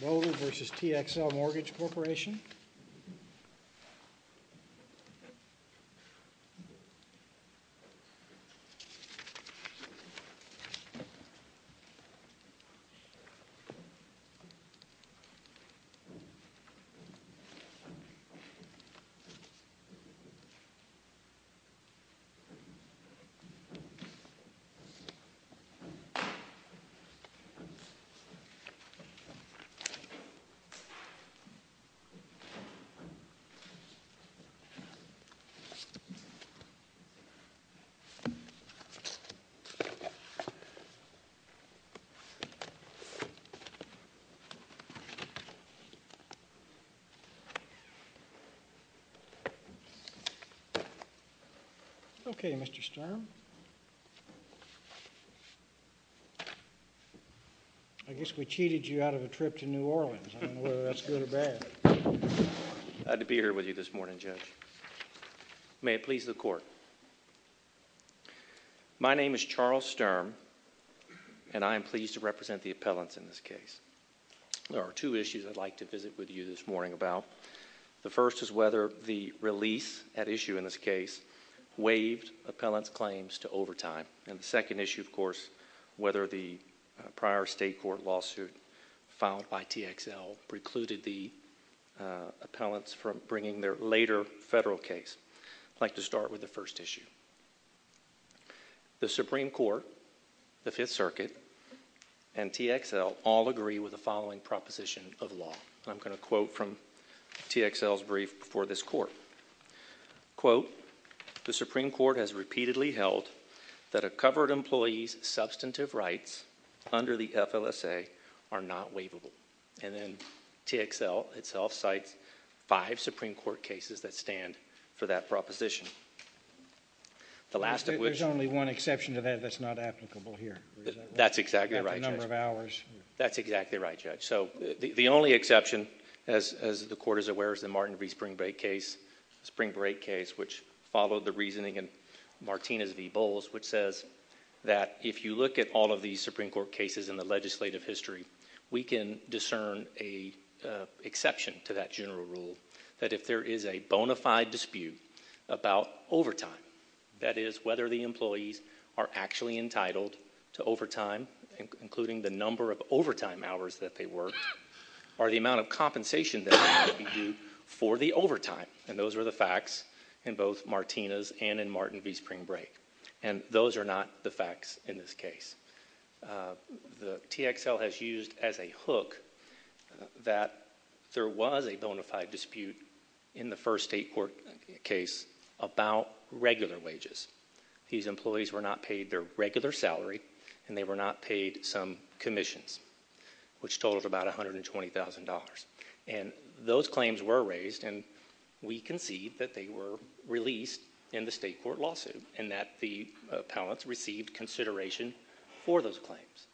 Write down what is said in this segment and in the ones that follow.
Bodle v. TXL Mortgage Corporation. Okay, Mr. Sturm, I guess we cheated you out of it, didn't we? Uh, yes. I can't believe that guy is in the middle of a trip to New Orleans. I don't know whether that's good or bad. I've been here with you this morning, Judge. May it please the court. My name is Charles Sturm and I am pleased to represent the appellants in this case. There are two issues I'd like to visit with you this morning about. The first is whether the release at issue in this case waved appellants' claims to overtime, and the second issue, of course, whether the prior state court lawsuit filed by TXL precluded the appellants from bringing their later federal case. I'd like to start with the first issue. The Supreme Court, the Fifth Circuit, and TXL all agree with the following proposition of law. I'm going to quote from TXL's brief before this court. Quote, the Supreme Court has repeatedly held that a covered employee's substantive rights under the FLSA are not waivable, and then TXL itself cites five Supreme Court cases that stand for that proposition. The last of which- There's only one exception to that that's not applicable here. That's exactly right, Judge. At the number of hours. That's exactly right, Judge. The only exception, as the Court is aware, is the Martin V. Springbreak case, which followed the reasoning in Martinez v. Bowles, which says that if you look at all of these Supreme Court cases in the legislative history, we can discern an exception to that general rule that if there is a bona fide dispute about overtime, that is, whether the employees are actually entitled to overtime, including the number of overtime hours that they worked, or the amount of compensation that has to be due for the overtime, and those are the facts in both Martinez and in Martin V. Springbreak, and those are not the facts in this case. The TXL has used as a hook that there was a bona fide dispute in the first state court case about regular wages. These employees were not paid their regular salary, and they were not paid some commissions, which totaled about $120,000. And those claims were raised, and we concede that they were released in the state court lawsuit and that the appellants received consideration for those claims.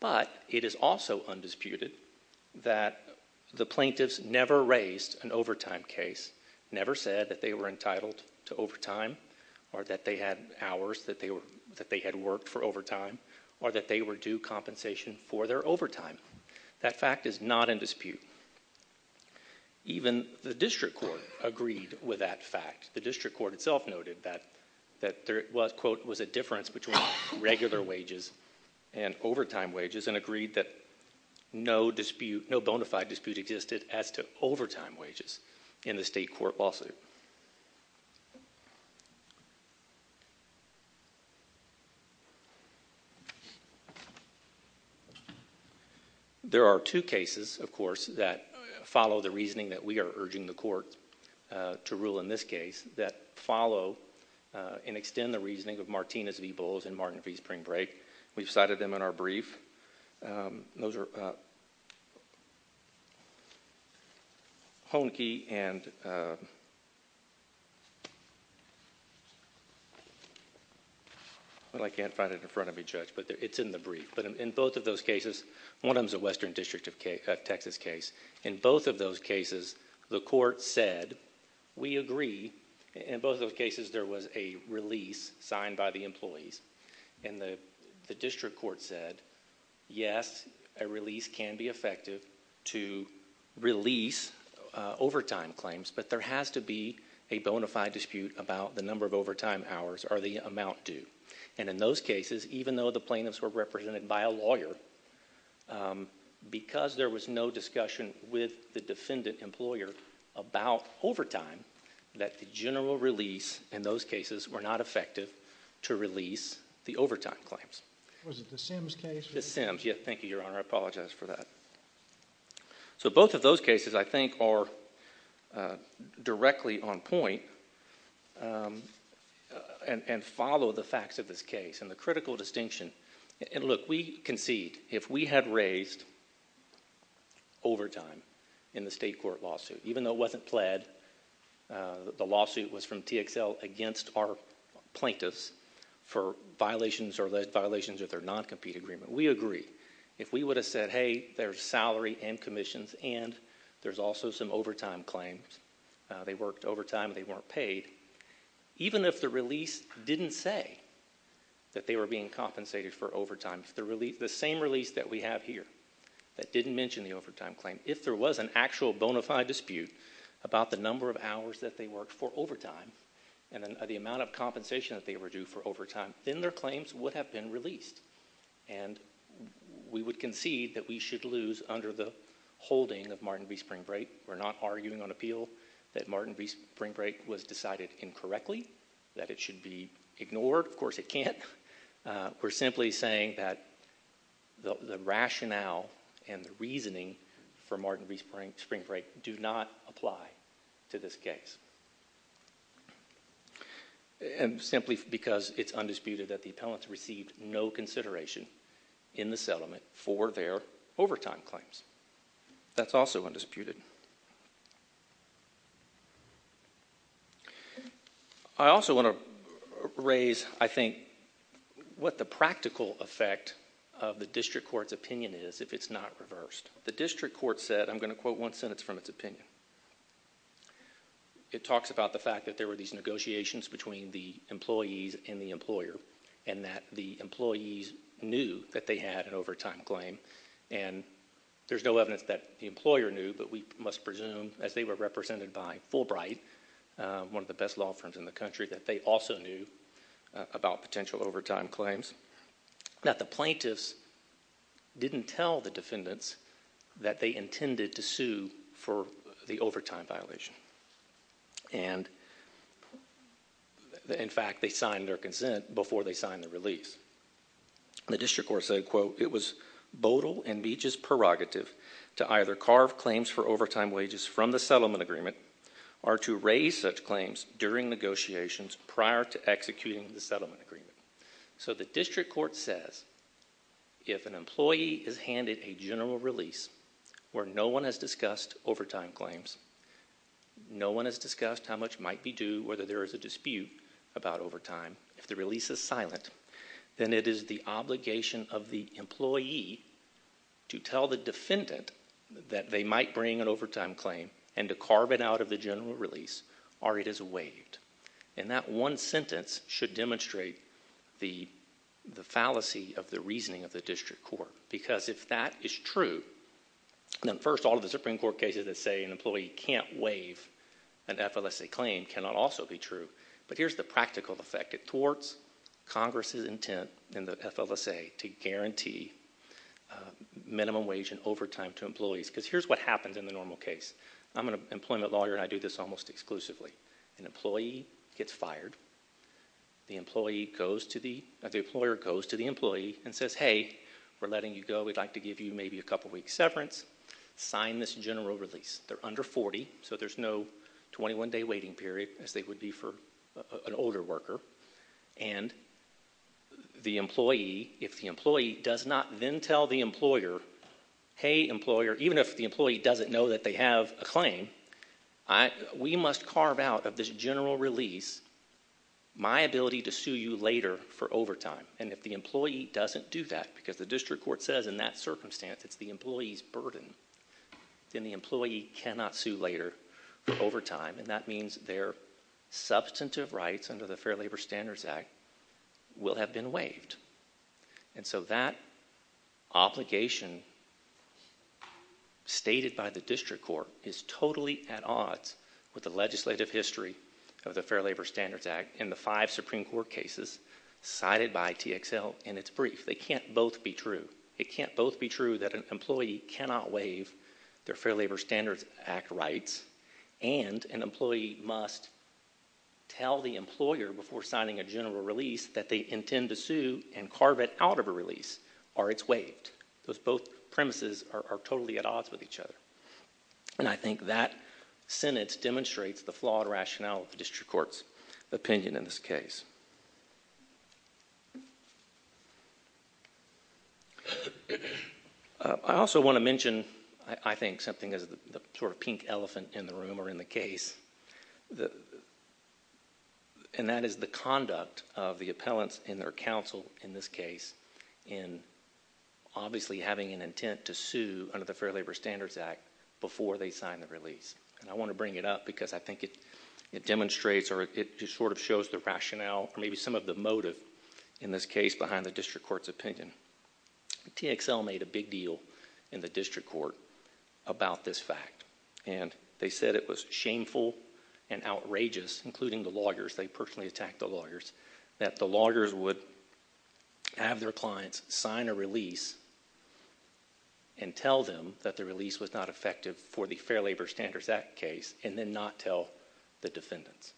But it is also undisputed that the plaintiffs never raised an overtime case, never said that they were entitled to overtime, or that they had hours that they had worked for overtime, or that they were due compensation for their overtime. That fact is not in dispute. Even the district court agreed with that fact. The district court itself noted that there was, quote, was a difference between regular wages and overtime wages and agreed that no dispute, no bona fide dispute existed as to whether or not they were entitled to overtime. There are two cases, of course, that follow the reasoning that we are urging the court to rule in this case that follow and extend the reasoning of Martinez v. Bulls and Martin v. Springbreak. We've cited them in our brief. Those are Honkey and, well, I can't find it in front of me, Judge, but it's in the brief. But in both of those cases, one of them is a Western District of Texas case. In both of those cases, the court said, we agree. In both of those cases, there was a release signed by the employees. And the district court said, yes, a release can be effective to release overtime claims, but there has to be a bona fide dispute about the number of overtime hours or the amount due. And in those cases, even though the plaintiffs were represented by a lawyer, because there was no discussion with the defendant employer about overtime, that the general release in those cases were not effective to release the overtime claims. Was it the Sims case? The Sims, yes. Thank you, Your Honor. I apologize for that. So both of those cases, I think, are directly on point and follow the facts of this case and the critical distinction. And look, we concede, if we had raised overtime in the state court lawsuit, even though it was pled, the lawsuit was from TXL against our plaintiffs for violations or violations of their non-compete agreement, we agree. If we would have said, hey, there's salary and commissions and there's also some overtime claims, they worked overtime, they weren't paid, even if the release didn't say that they were being compensated for overtime, the same release that we have here that didn't mention the overtime claim, if there was an actual bona fide dispute about the number of hours that they worked for overtime and the amount of compensation that they were due for overtime, then their claims would have been released. And we would concede that we should lose under the holding of Martin v. Spring Break. We're not arguing on appeal that Martin v. Spring Break was decided incorrectly, that it should be ignored. Of course, it can't. We're simply saying that the rationale and the reasoning for Martin v. Spring Break do not apply to this case, simply because it's undisputed that the appellants received no consideration in the settlement for their overtime claims. That's also undisputed. I also want to raise, I think, what the practical effect of the district court's opinion is if it's not reversed. The district court said, I'm going to quote one sentence from its opinion. It talks about the fact that there were these negotiations between the employees and the employer and that the employees knew that they had an overtime claim and there's no doubt, must presume, as they were represented by Fulbright, one of the best law firms in the country, that they also knew about potential overtime claims, that the plaintiffs didn't tell the defendants that they intended to sue for the overtime violation. And in fact, they signed their consent before they signed the release. The district court said, quote, it was bodil and beech's prerogative to either carve claims for overtime wages from the settlement agreement or to raise such claims during negotiations prior to executing the settlement agreement. So the district court says, if an employee is handed a general release where no one has discussed overtime claims, no one has discussed how much might be due, whether there is a dispute about overtime, if the release is silent, then it is the obligation of the employee to tell the defendant that they might bring an overtime claim and to carve it out of the general release or it is waived. And that one sentence should demonstrate the fallacy of the reasoning of the district court because if that is true, then first all of the Supreme Court cases that say an employee can't waive an FLSA claim cannot also be true. But here's the practical effect. It thwarts Congress's intent in the FLSA to guarantee minimum wage and overtime to employees. Because here's what happens in the normal case. I'm an employment lawyer and I do this almost exclusively. An employee gets fired. The employee goes to the, the employer goes to the employee and says, hey, we're letting you go. We'd like to give you maybe a couple weeks severance. Sign this general release. They're under 40, so there's no 21-day waiting period as they would be for an older worker. And the employee, if the employee does not then tell the employer, hey, employer, even if the employee doesn't know that they have a claim, I, we must carve out of this general release my ability to sue you later for overtime. And if the employee doesn't do that because the district court says in that circumstance it's the employee's burden, then the employee cannot sue later for overtime and that means their substantive rights under the Fair Labor Standards Act will have been waived. And so that obligation stated by the district court is totally at odds with the legislative history of the Fair Labor Standards Act and the five Supreme Court cases cited by TXL in its brief. They can't both be true. It can't both be true that an employee cannot waive their Fair Labor Standards Act rights and an employee must tell the employer before signing a general release that they intend to sue and carve it out of a release or it's waived. Those both premises are totally at odds with each other. And I think that sentence demonstrates the flawed rationale of the district court's opinion in this case. I also want to mention, I think, something as the sort of pink elephant in the room or in the case, and that is the conduct of the appellants in their counsel in this case in obviously having an intent to sue under the Fair Labor Standards Act before they sign the release. And I want to bring it up because I think it demonstrates or it just sort of shows the rationale or maybe some of the motive in this case behind the district court's opinion. TXL made a big deal in the district court about this fact. And they said it was shameful and outrageous, including the lawyers. They personally attacked the lawyers, that the lawyers would have their clients sign a release and tell them that the release was not effective for the Fair Labor Standards Act case and then not tell the defendants.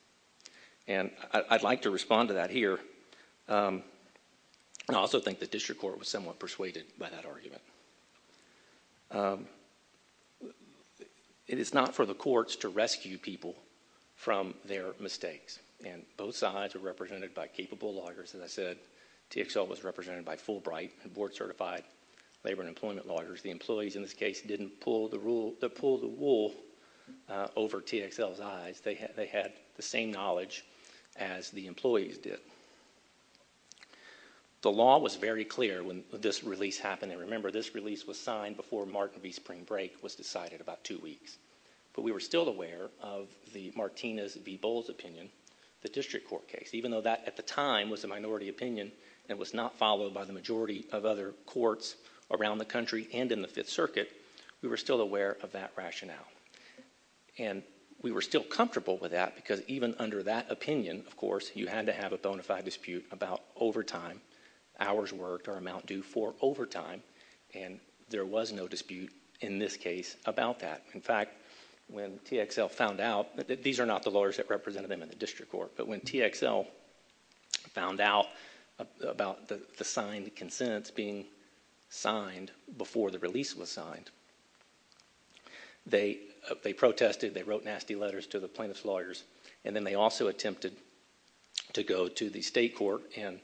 And I'd like to respond to that here. I also think the district court was somewhat persuaded by that argument. It is not for the courts to rescue people from their mistakes. And both sides are represented by capable lawyers, as I said, TXL was represented by court-certified labor and employment lawyers. The employees in this case didn't pull the wool over TXL's eyes. They had the same knowledge as the employees did. The law was very clear when this release happened. And remember, this release was signed before Martin v. Spring Break was decided about two weeks. But we were still aware of the Martinez v. Bowles opinion, the district court case, even though that at the time was a minority opinion and was not followed by the majority of other courts around the country and in the Fifth Circuit, we were still aware of that rationale. And we were still comfortable with that because even under that opinion, of course, you had to have a bona fide dispute about overtime, hours worked or amount due for overtime. And there was no dispute in this case about that. In fact, when TXL found out, these are not the lawyers that represented them in the district court, but when TXL found out about the signed consent being signed before the release was signed, they protested, they wrote nasty letters to the plaintiff's lawyers, and then they also attempted to go to the state court and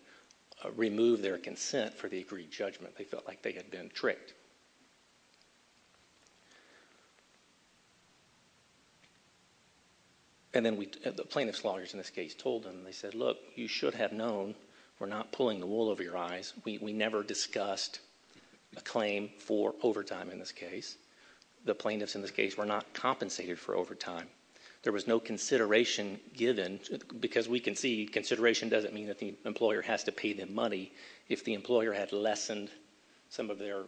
remove their consent for the agreed judgment. They felt like they had been tricked. And then the plaintiff's lawyers in this case told them, they said, look, you should have known we're not pulling the wool over your eyes. We never discussed a claim for overtime in this case. The plaintiffs in this case were not compensated for overtime. There was no consideration given because we can see consideration doesn't mean that the employer had lessened some of their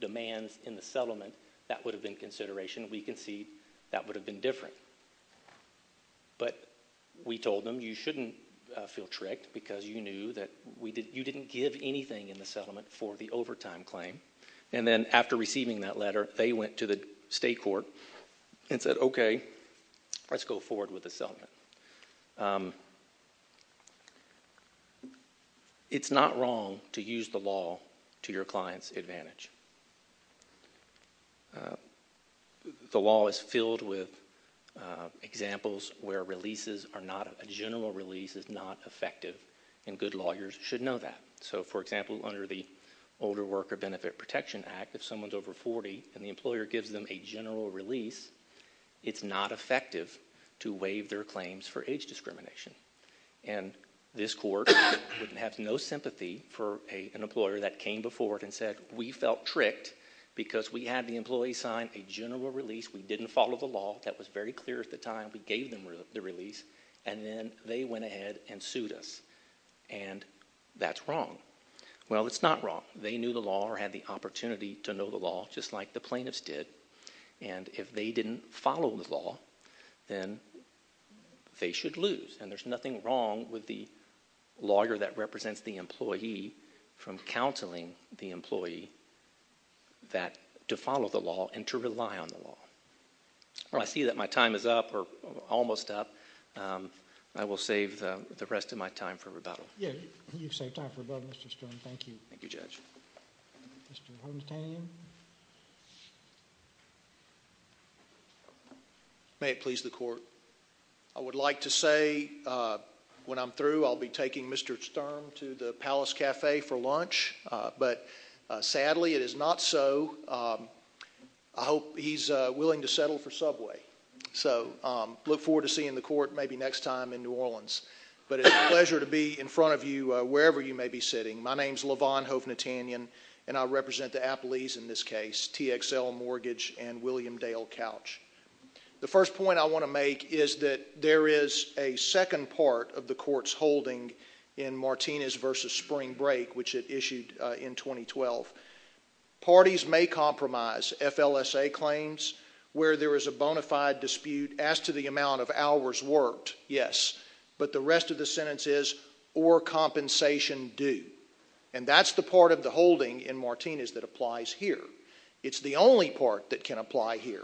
demands in the settlement. That would have been consideration. We can see that would have been different. But we told them, you shouldn't feel tricked because you knew that you didn't give anything in the settlement for the overtime claim. And then after receiving that letter, they went to the state court and said, okay, let's go forward with the settlement. It's not wrong to use the law to your client's advantage. The law is filled with examples where a general release is not effective, and good lawyers should know that. So, for example, under the Older Worker Benefit Protection Act, if someone is over 40 and the employer gives them a general release, it's not effective to waive their claims for age discrimination. And this court would have no sympathy for an employer that came before it and said, we felt tricked because we had the employee sign a general release, we didn't follow the law, that was very clear at the time, we gave them the release, and then they went ahead and sued us. And that's wrong. Well, it's not wrong. They knew the law or had the opportunity to know the law, just like the plaintiffs did. And if they didn't follow the law, then they should lose. And there's nothing wrong with the lawyer that represents the employee from counseling the employee to follow the law and to rely on the law. Well, I see that my time is up, or almost up. I will save the rest of my time for rebuttal. Yeah, you've saved time for rebuttal, Mr. Sturm. Thank you. Thank you, Judge. Mr. Hontan. May it please the court. I would like to say, when I'm through, I'll be taking Mr. Sturm to the Palace Cafe for lunch. But sadly, it is not so. I hope he's willing to settle for Subway. So look forward to seeing the court maybe next time in New Orleans. But it's a pleasure to be in front of you, wherever you may be sitting. My name's Levon Hovnatanyan. And I represent the Appleys, in this case, TXL Mortgage, and William Dale Couch. The first point I want to make is that there is a second part of the court's holding in Martinez v. Spring Break, which it issued in 2012. Parties may compromise FLSA claims where there is a bona fide dispute. As to the amount of hours worked, yes. But the rest of the sentence is, or compensation due. And that's the part of the holding in Martinez that applies here. It's the only part that can apply here.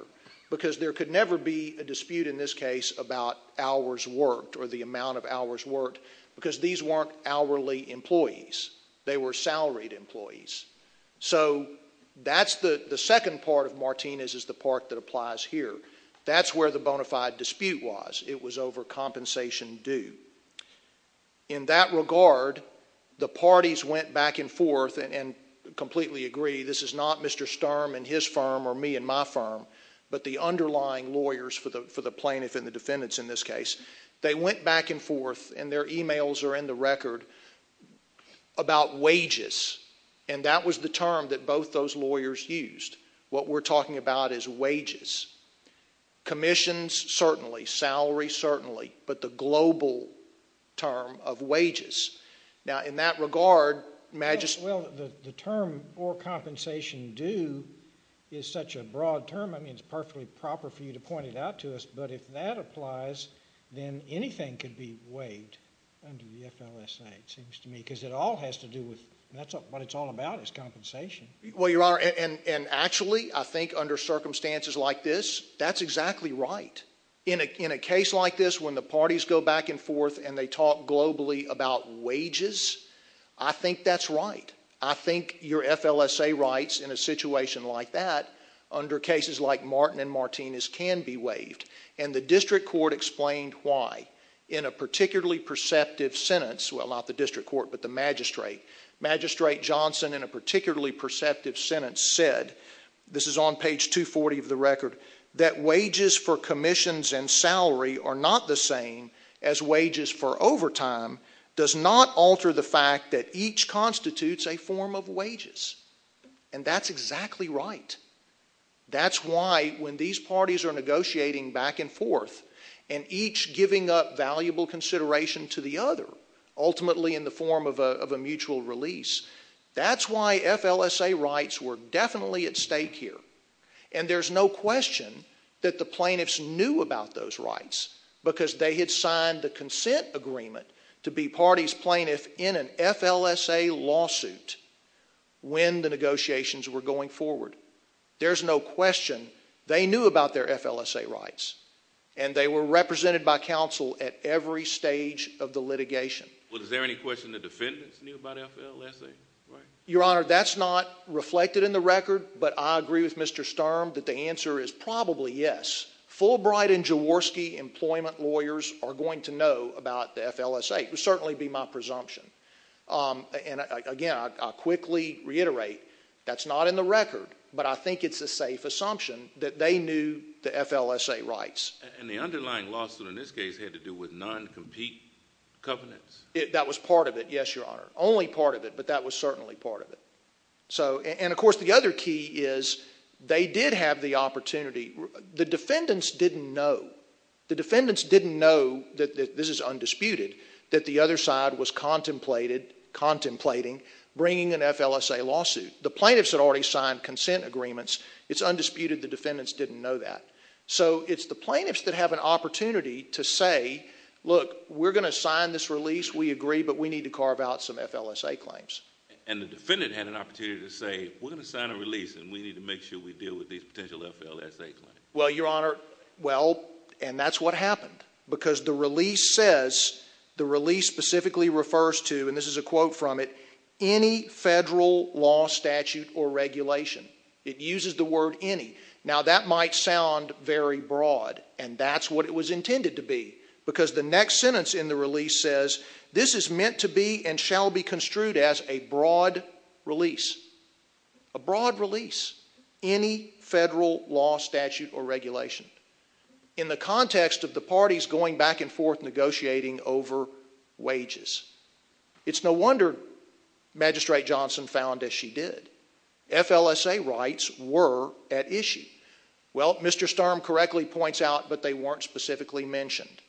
Because there could never be a dispute in this case about hours worked, or the amount of hours worked, because these weren't hourly employees. They were salaried employees. So that's the second part of Martinez is the part that applies here. That's where the bona fide dispute was. It was over compensation due. In that regard, the parties went back and forth and completely agree. This is not Mr. Sturm and his firm, or me and my firm, but the underlying lawyers for the plaintiff and the defendants in this case. They went back and forth, and their emails are in the record, about wages. And that was the term that both those lawyers used. What we're talking about is wages. Commissions, certainly. Salary, certainly. But the global term of wages. Now, in that regard, Magist- Well, the term, or compensation due, is such a broad term. I mean, it's perfectly proper for you to point it out to us. But if that applies, then anything could be waived under the FLSA, it seems to me, because it all has to do with, that's what it's all about, is compensation. Well, Your Honor, and actually, I think under circumstances like this, that's exactly right. In a case like this, when the parties go back and forth and they talk globally about wages, I think that's right. I think your FLSA rights in a situation like that, under cases like Martin and Martinez, can be waived. And the district court explained why. In a particularly perceptive sentence, well, not the district court, but the magistrate, Magistrate Johnson, in a particularly perceptive sentence said, this is on page 240 of the record, that wages for commissions and salary are not the same as wages for overtime, does not alter the fact that each constitutes a form of wages. And that's exactly right. That's why, when these parties are negotiating back and forth, and each giving up valuable consideration to the other, ultimately in the form of a mutual release, that's why FLSA rights were definitely at stake here. And there's no question that the plaintiffs knew about those rights, because they had signed the consent agreement to be party's plaintiff in an FLSA lawsuit when the negotiations were going forward. There's no question they knew about their FLSA rights, and they were represented by counsel at every stage of the litigation. Well, is there any question the defendants knew about FLSA rights? Your Honor, that's not reflected in the record, but I agree with Mr. Sturm that the answer is probably yes. Fulbright and Jaworski employment lawyers are going to know about the FLSA. It would certainly be my presumption. And again, I'll quickly reiterate, that's not in the record, but I think it's a safe assumption that they knew the FLSA rights. And the underlying lawsuit in this case had to do with non-compete covenants? That was part of it, yes, Your Honor. Only part of it, but that was certainly part of it. So, and of course, the other key is they did have the opportunity. The defendants didn't know. The defendants didn't know that this is undisputed, that the other side was contemplating bringing an FLSA lawsuit. The plaintiffs had already signed consent agreements. It's undisputed the defendants didn't know that. So it's the plaintiffs that have an opportunity to say, look, we're gonna sign this release, we agree, but we need to carve out some FLSA claims. And the defendant had an opportunity to say, we're gonna sign a release and we need to make sure we deal with these potential FLSA claims. Well, Your Honor, well, and that's what happened. Because the release says, the release specifically refers to, and this is a quote from it, any federal law statute or regulation. It uses the word any. Now that might sound very broad, and that's what it was intended to be. Because the next sentence in the release says, this is meant to be and shall be construed as a broad release, a broad release. Any federal law statute or regulation. In the context of the parties going back and forth negotiating over wages. It's no wonder Magistrate Johnson found as she did. FLSA rights were at issue. Well, Mr. Sturm correctly points out, but they weren't specifically mentioned.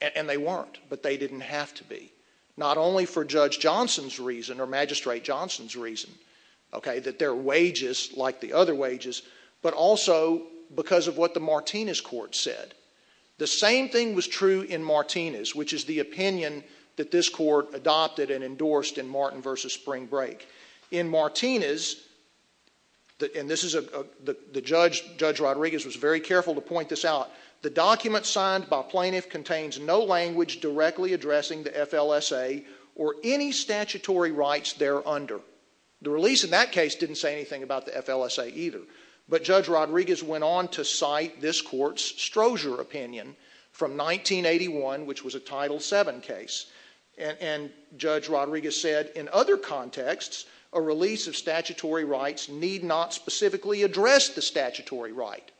And they weren't, but they didn't have to be. Not only for Judge Johnson's reason or Magistrate Johnson's reason, okay, that their wages like the other wages, but also because of what the Martinez court said. The same thing was true in Martinez, which is the opinion that this court adopted and endorsed in Martin versus Spring Break. In Martinez, and Judge Rodriguez was very careful to point this out. The document signed by plaintiff contains no language directly addressing the FLSA or any statutory rights there under. The release in that case didn't say anything about the FLSA either. But Judge Rodriguez went on to cite this court's Strozier opinion from 1981, which was a Title VII case. And Judge Rodriguez said, in other contexts, a release of statutory rights need not specifically address the statutory right.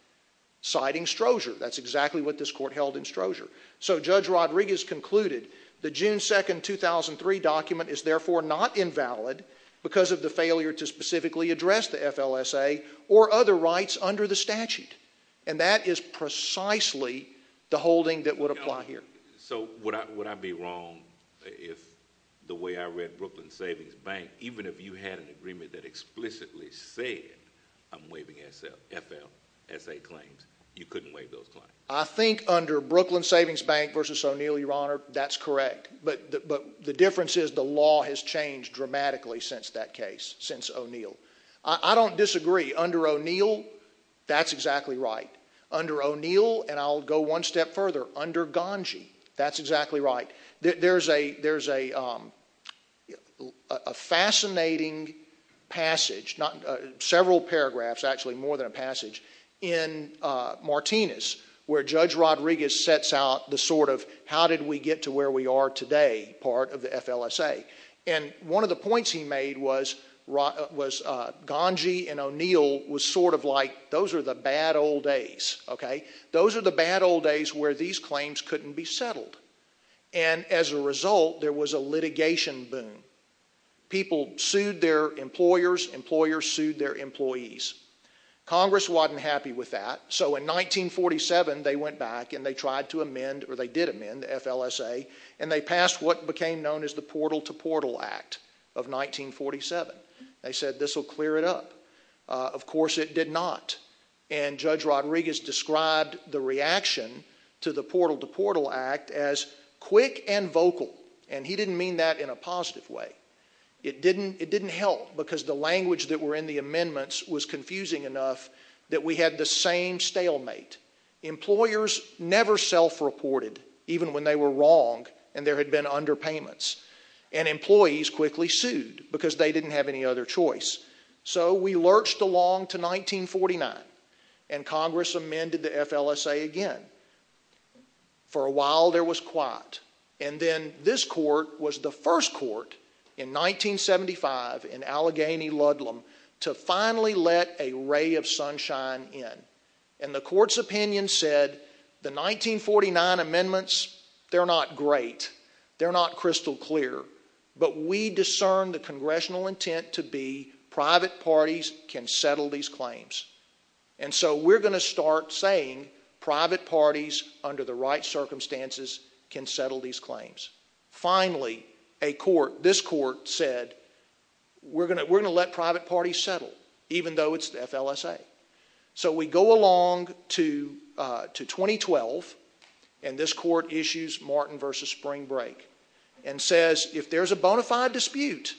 Citing Strozier, that's exactly what this court held in Strozier. So Judge Rodriguez concluded the June 2nd, 2003 document is therefore not invalid because of the failure to specifically address the FLSA or other rights under the statute, and that is precisely the holding that would apply here. So would I be wrong if the way I read Brooklyn Savings Bank, even if you had an agreement that explicitly said I'm waiving FLSA claims, you couldn't waive those claims? I think under Brooklyn Savings Bank versus O'Neill, Your Honor, that's correct. But the difference is the law has changed dramatically since that case, since O'Neill. I don't disagree, under O'Neill, that's exactly right. Under O'Neill, and I'll go one step further, under Ganji, that's exactly right. There's a fascinating passage, not several paragraphs, actually more than a passage, in Martinez, where Judge Rodriguez sets out the sort of, how did we get to where we are today, part of the FLSA? And one of the points he made was Ganji and the bad old days, okay? Those are the bad old days where these claims couldn't be settled. And as a result, there was a litigation boom. People sued their employers, employers sued their employees. Congress wasn't happy with that, so in 1947, they went back and they tried to amend, or they did amend, the FLSA. And they passed what became known as the Portal to Portal Act of 1947. They said this will clear it up. Of course it did not. And Judge Rodriguez described the reaction to the Portal to Portal Act as quick and vocal, and he didn't mean that in a positive way. It didn't help, because the language that were in the amendments was confusing enough that we had the same stalemate. Employers never self-reported, even when they were wrong and there had been underpayments. And employees quickly sued, because they didn't have any other choice. So we lurched along to 1949, and Congress amended the FLSA again. For a while, there was quiet. And then this court was the first court in 1975 in Allegheny-Ludlam to finally let a ray of sunshine in. And the court's opinion said, the 1949 amendments, they're not great. They're not crystal clear. But we discerned the congressional intent to be, private parties can settle these claims. And so we're gonna start saying, private parties under the right circumstances can settle these claims. Finally, this court said, we're gonna let private parties settle, even though it's the FLSA. So we go along to 2012, and this court issues Martin versus Spring Break. And says, if there's a bona fide dispute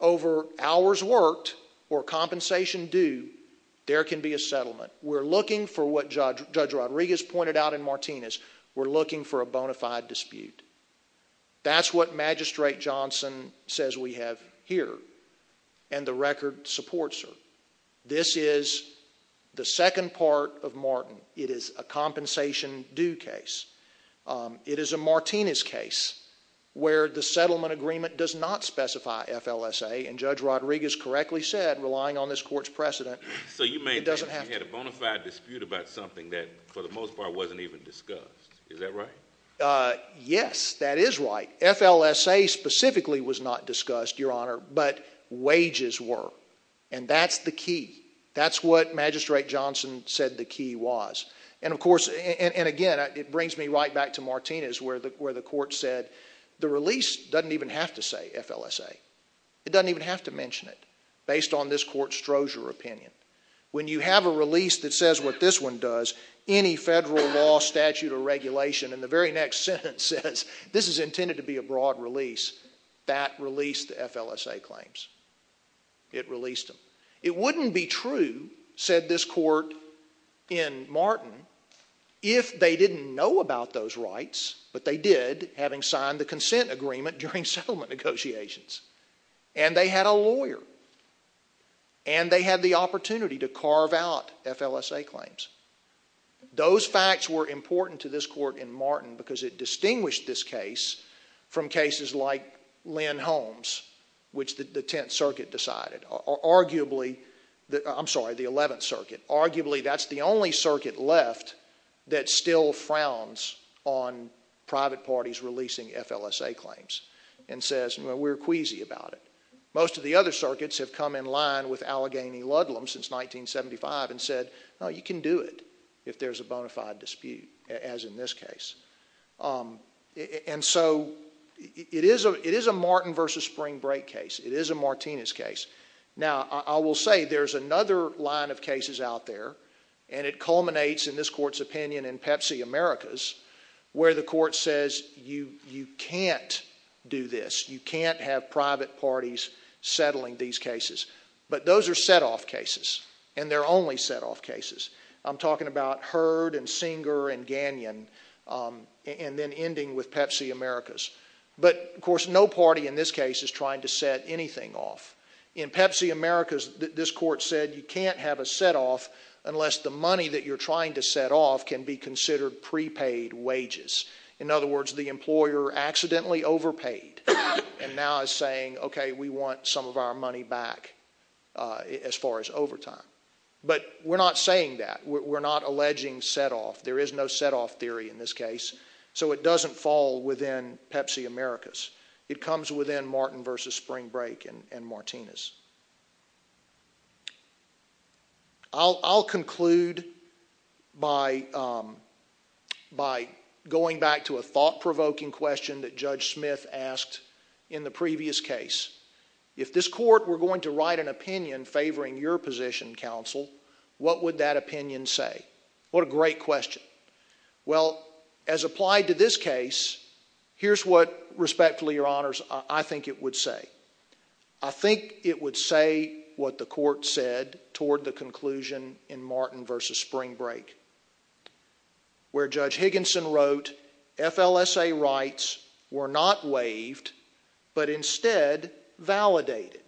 over hours worked or compensation due, there can be a settlement. We're looking for what Judge Rodriguez pointed out in Martinez. We're looking for a bona fide dispute. That's what Magistrate Johnson says we have here, and the record supports her. This is the second part of Martin. It is a compensation due case. It is a Martinez case, where the settlement agreement does not specify FLSA. And Judge Rodriguez correctly said, relying on this court's precedent. So you may have had a bona fide dispute about something that, for the most part, wasn't even discussed. Is that right? Yes, that is right. FLSA specifically was not discussed, Your Honor, but wages were. And that's the key. That's what Magistrate Johnson said the key was. And of course, and again, it brings me right back to Martinez, where the court said, the release doesn't even have to say FLSA. It doesn't even have to mention it, based on this court's Strozier opinion. When you have a release that says what this one does, any federal law, statute, or regulation, and the very next sentence says, this is intended to be a broad release, that released the FLSA claims. It released them. It wouldn't be true, said this court in Martin, if they didn't know about those rights, but they did, having signed the consent agreement during settlement negotiations. And they had a lawyer. And they had the opportunity to carve out FLSA claims. Those facts were important to this court in Martin, because it distinguished this case from cases like Lynn Holmes, which the 10th Circuit decided, or arguably, I'm sorry, the 11th Circuit. Arguably, that's the only circuit left that still frowns on private parties releasing FLSA claims, and says, we're queasy about it. Most of the other circuits have come in line with Allegheny Ludlam since 1975 and said, no, you can do it if there's a bona fide dispute, as in this case. And so, it is a Martin versus Spring Break case. It is a Martinez case. Now, I will say, there's another line of cases out there, and it culminates, in this court's opinion, in Pepsi Americas, where the court says, you can't do this. You can't have private parties settling these cases. But those are set-off cases, and they're only set-off cases. I'm talking about Heard and Singer and Gagnon, and then ending with Pepsi Americas. But, of course, no party in this case is trying to set anything off. In Pepsi Americas, this court said, you can't have a set-off unless the money that you're trying to set off can be considered prepaid wages. In other words, the employer accidentally overpaid, and now is saying, okay, we want some of our money back as far as overtime. But we're not saying that. We're not alleging set-off. There is no set-off theory in this case, so it doesn't fall within Pepsi Americas. It comes within Martin versus Spring Break and Martinez. I'll conclude by going back to a thought-provoking question that Judge Smith asked in the previous case. If this court were going to write an opinion favoring your position, counsel, what would that opinion say? What a great question. Well, as applied to this case, here's what, respectfully, your honors, I think it would say. I think it would say what the court said toward the conclusion in Martin versus Spring Break, where Judge Higginson wrote, FLSA rights were not waived, but instead validated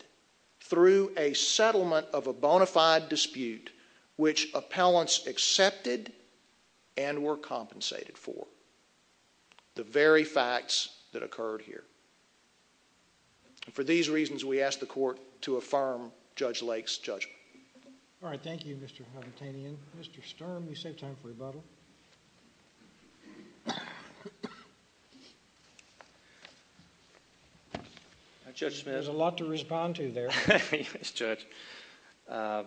through a settlement of a bona fide dispute, which appellants accepted and were compensated for. The very facts that occurred here. For these reasons, we ask the court to affirm Judge Lake's judgment. All right, thank you, Mr. Habertanian. Mr. Sturm, you saved time for rebuttal. Judge Smith. There's a lot to respond to there. Yes, Judge. I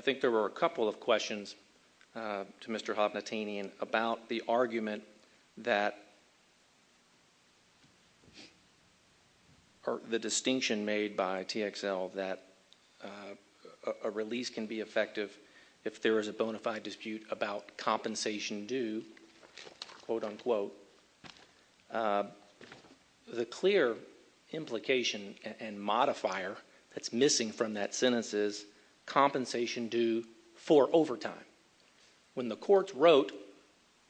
think there were a couple of questions to Mr. Habertanian about the argument that or the distinction made by TXL that a release can be effective if there is a bona fide dispute about compensation due, quote unquote. The clear implication and modifier that's missing from that sentence is compensation due for overtime. When the courts wrote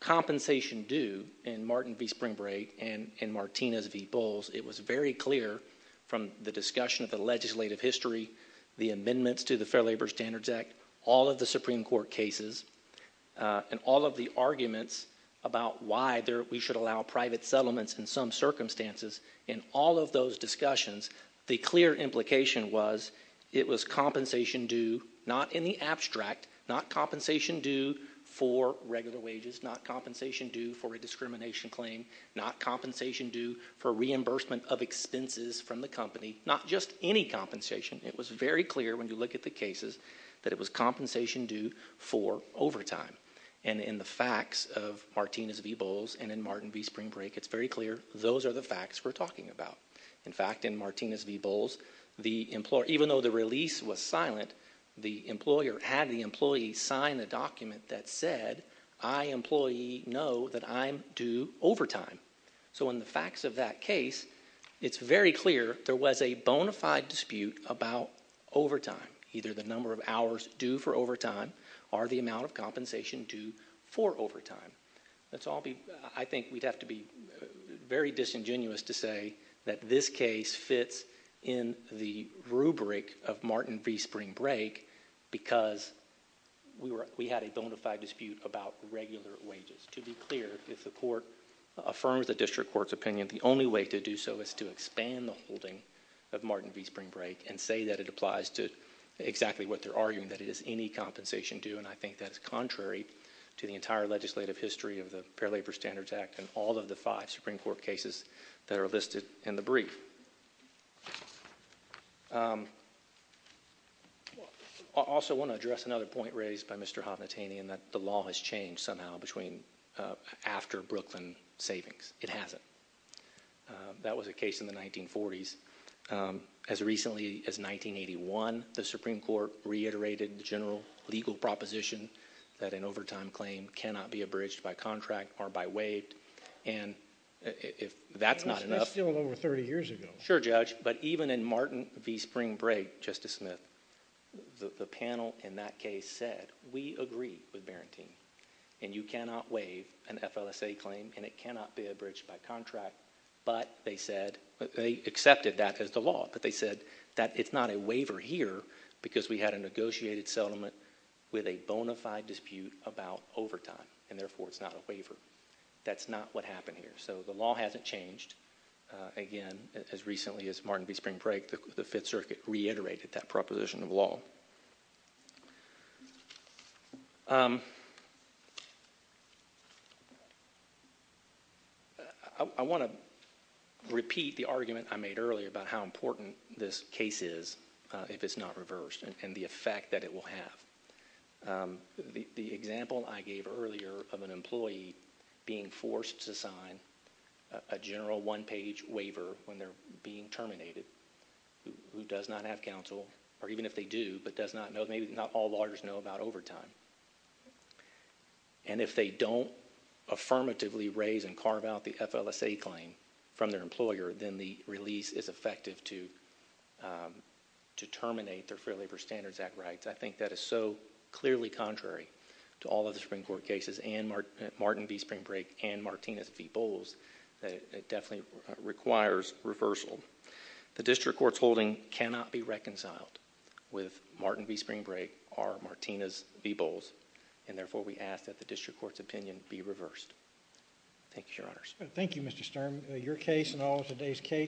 compensation due in Martin v. Spring Break and in Martinez v. Bowles, it was very clear from the discussion of the legislative history, the amendments to the Fair Labor Standards Act, all of the Supreme Court cases, and all of the arguments about why we should allow private settlements in some circumstances. In all of those discussions, the clear implication was it was compensation due not in the abstract, not compensation due for regular wages, not compensation due for a discrimination claim, not compensation due for reimbursement of expenses from the company, not just any compensation. It was very clear when you look at the cases that it was compensation due for overtime. And in the facts of Martinez v. Spring Break, it's very clear those are the facts we're talking about. In fact, in Martinez v. Bowles, even though the release was silent, the employer had the employee sign a document that said, I, employee, know that I'm due overtime. So in the facts of that case, it's very clear there was a bona fide dispute about overtime, either the number of hours due for overtime or the amount of compensation due for overtime. Let's all be, I think we'd have to be very disingenuous to say that this case fits in the rubric of Martin v. Spring Break because we had a bona fide dispute about regular wages. To be clear, if the court affirms the district court's opinion, the only way to do so is to expand the holding of Martin v. Spring Break and say that it applies to exactly what they're arguing, that it is any compensation due. And I think that is contrary to the entire legislative history of the Fair Labor Standards Act and all of the five Supreme Court cases that are listed in the brief. I also want to address another point raised by Mr. Havnatanian that the law has changed somehow between after Brooklyn Savings. It hasn't. That was a case in the 1940s. As recently as 1981, the Supreme Court reiterated the general legal proposition that an overtime claim cannot be abridged by contract or by waived. And if that's not enough- That was still over 30 years ago. Sure, Judge. But even in Martin v. Spring Break, Justice Smith, the panel in that case said, we agree with Barantine. And you cannot waive an FLSA claim and it cannot be abridged by contract. But they said, they accepted that as the law, but they said that it's not a waiver here, because we had a negotiated settlement with a bona fide dispute about overtime, and therefore it's not a waiver. That's not what happened here. So the law hasn't changed. Again, as recently as Martin v. Spring Break, the Fifth Circuit reiterated that proposition of law. I want to repeat the argument I made earlier about how important this case is if it's not reversed, and the effect that it will have. The example I gave earlier of an employee being forced to sign a general one-page waiver when they're being terminated, who does not have counsel, or even if they do, but maybe not all lawyers know about overtime. And if they don't affirmatively raise and carve out the FLSA claim from their employer, then the release is effective to terminate their Fair Labor Standards Act rights. I think that is so clearly contrary to all of the Supreme Court cases, and Martin v. Spring Break, and Martinez v. Bowles, that it definitely requires reversal. The district court's holding cannot be reconciled with Martin v. Spring Break or Martinez v. Bowles, and therefore we ask that the district court's opinion be reversed. Thank you, your honors. Thank you, Mr. Sturm. Your case and all of today's case.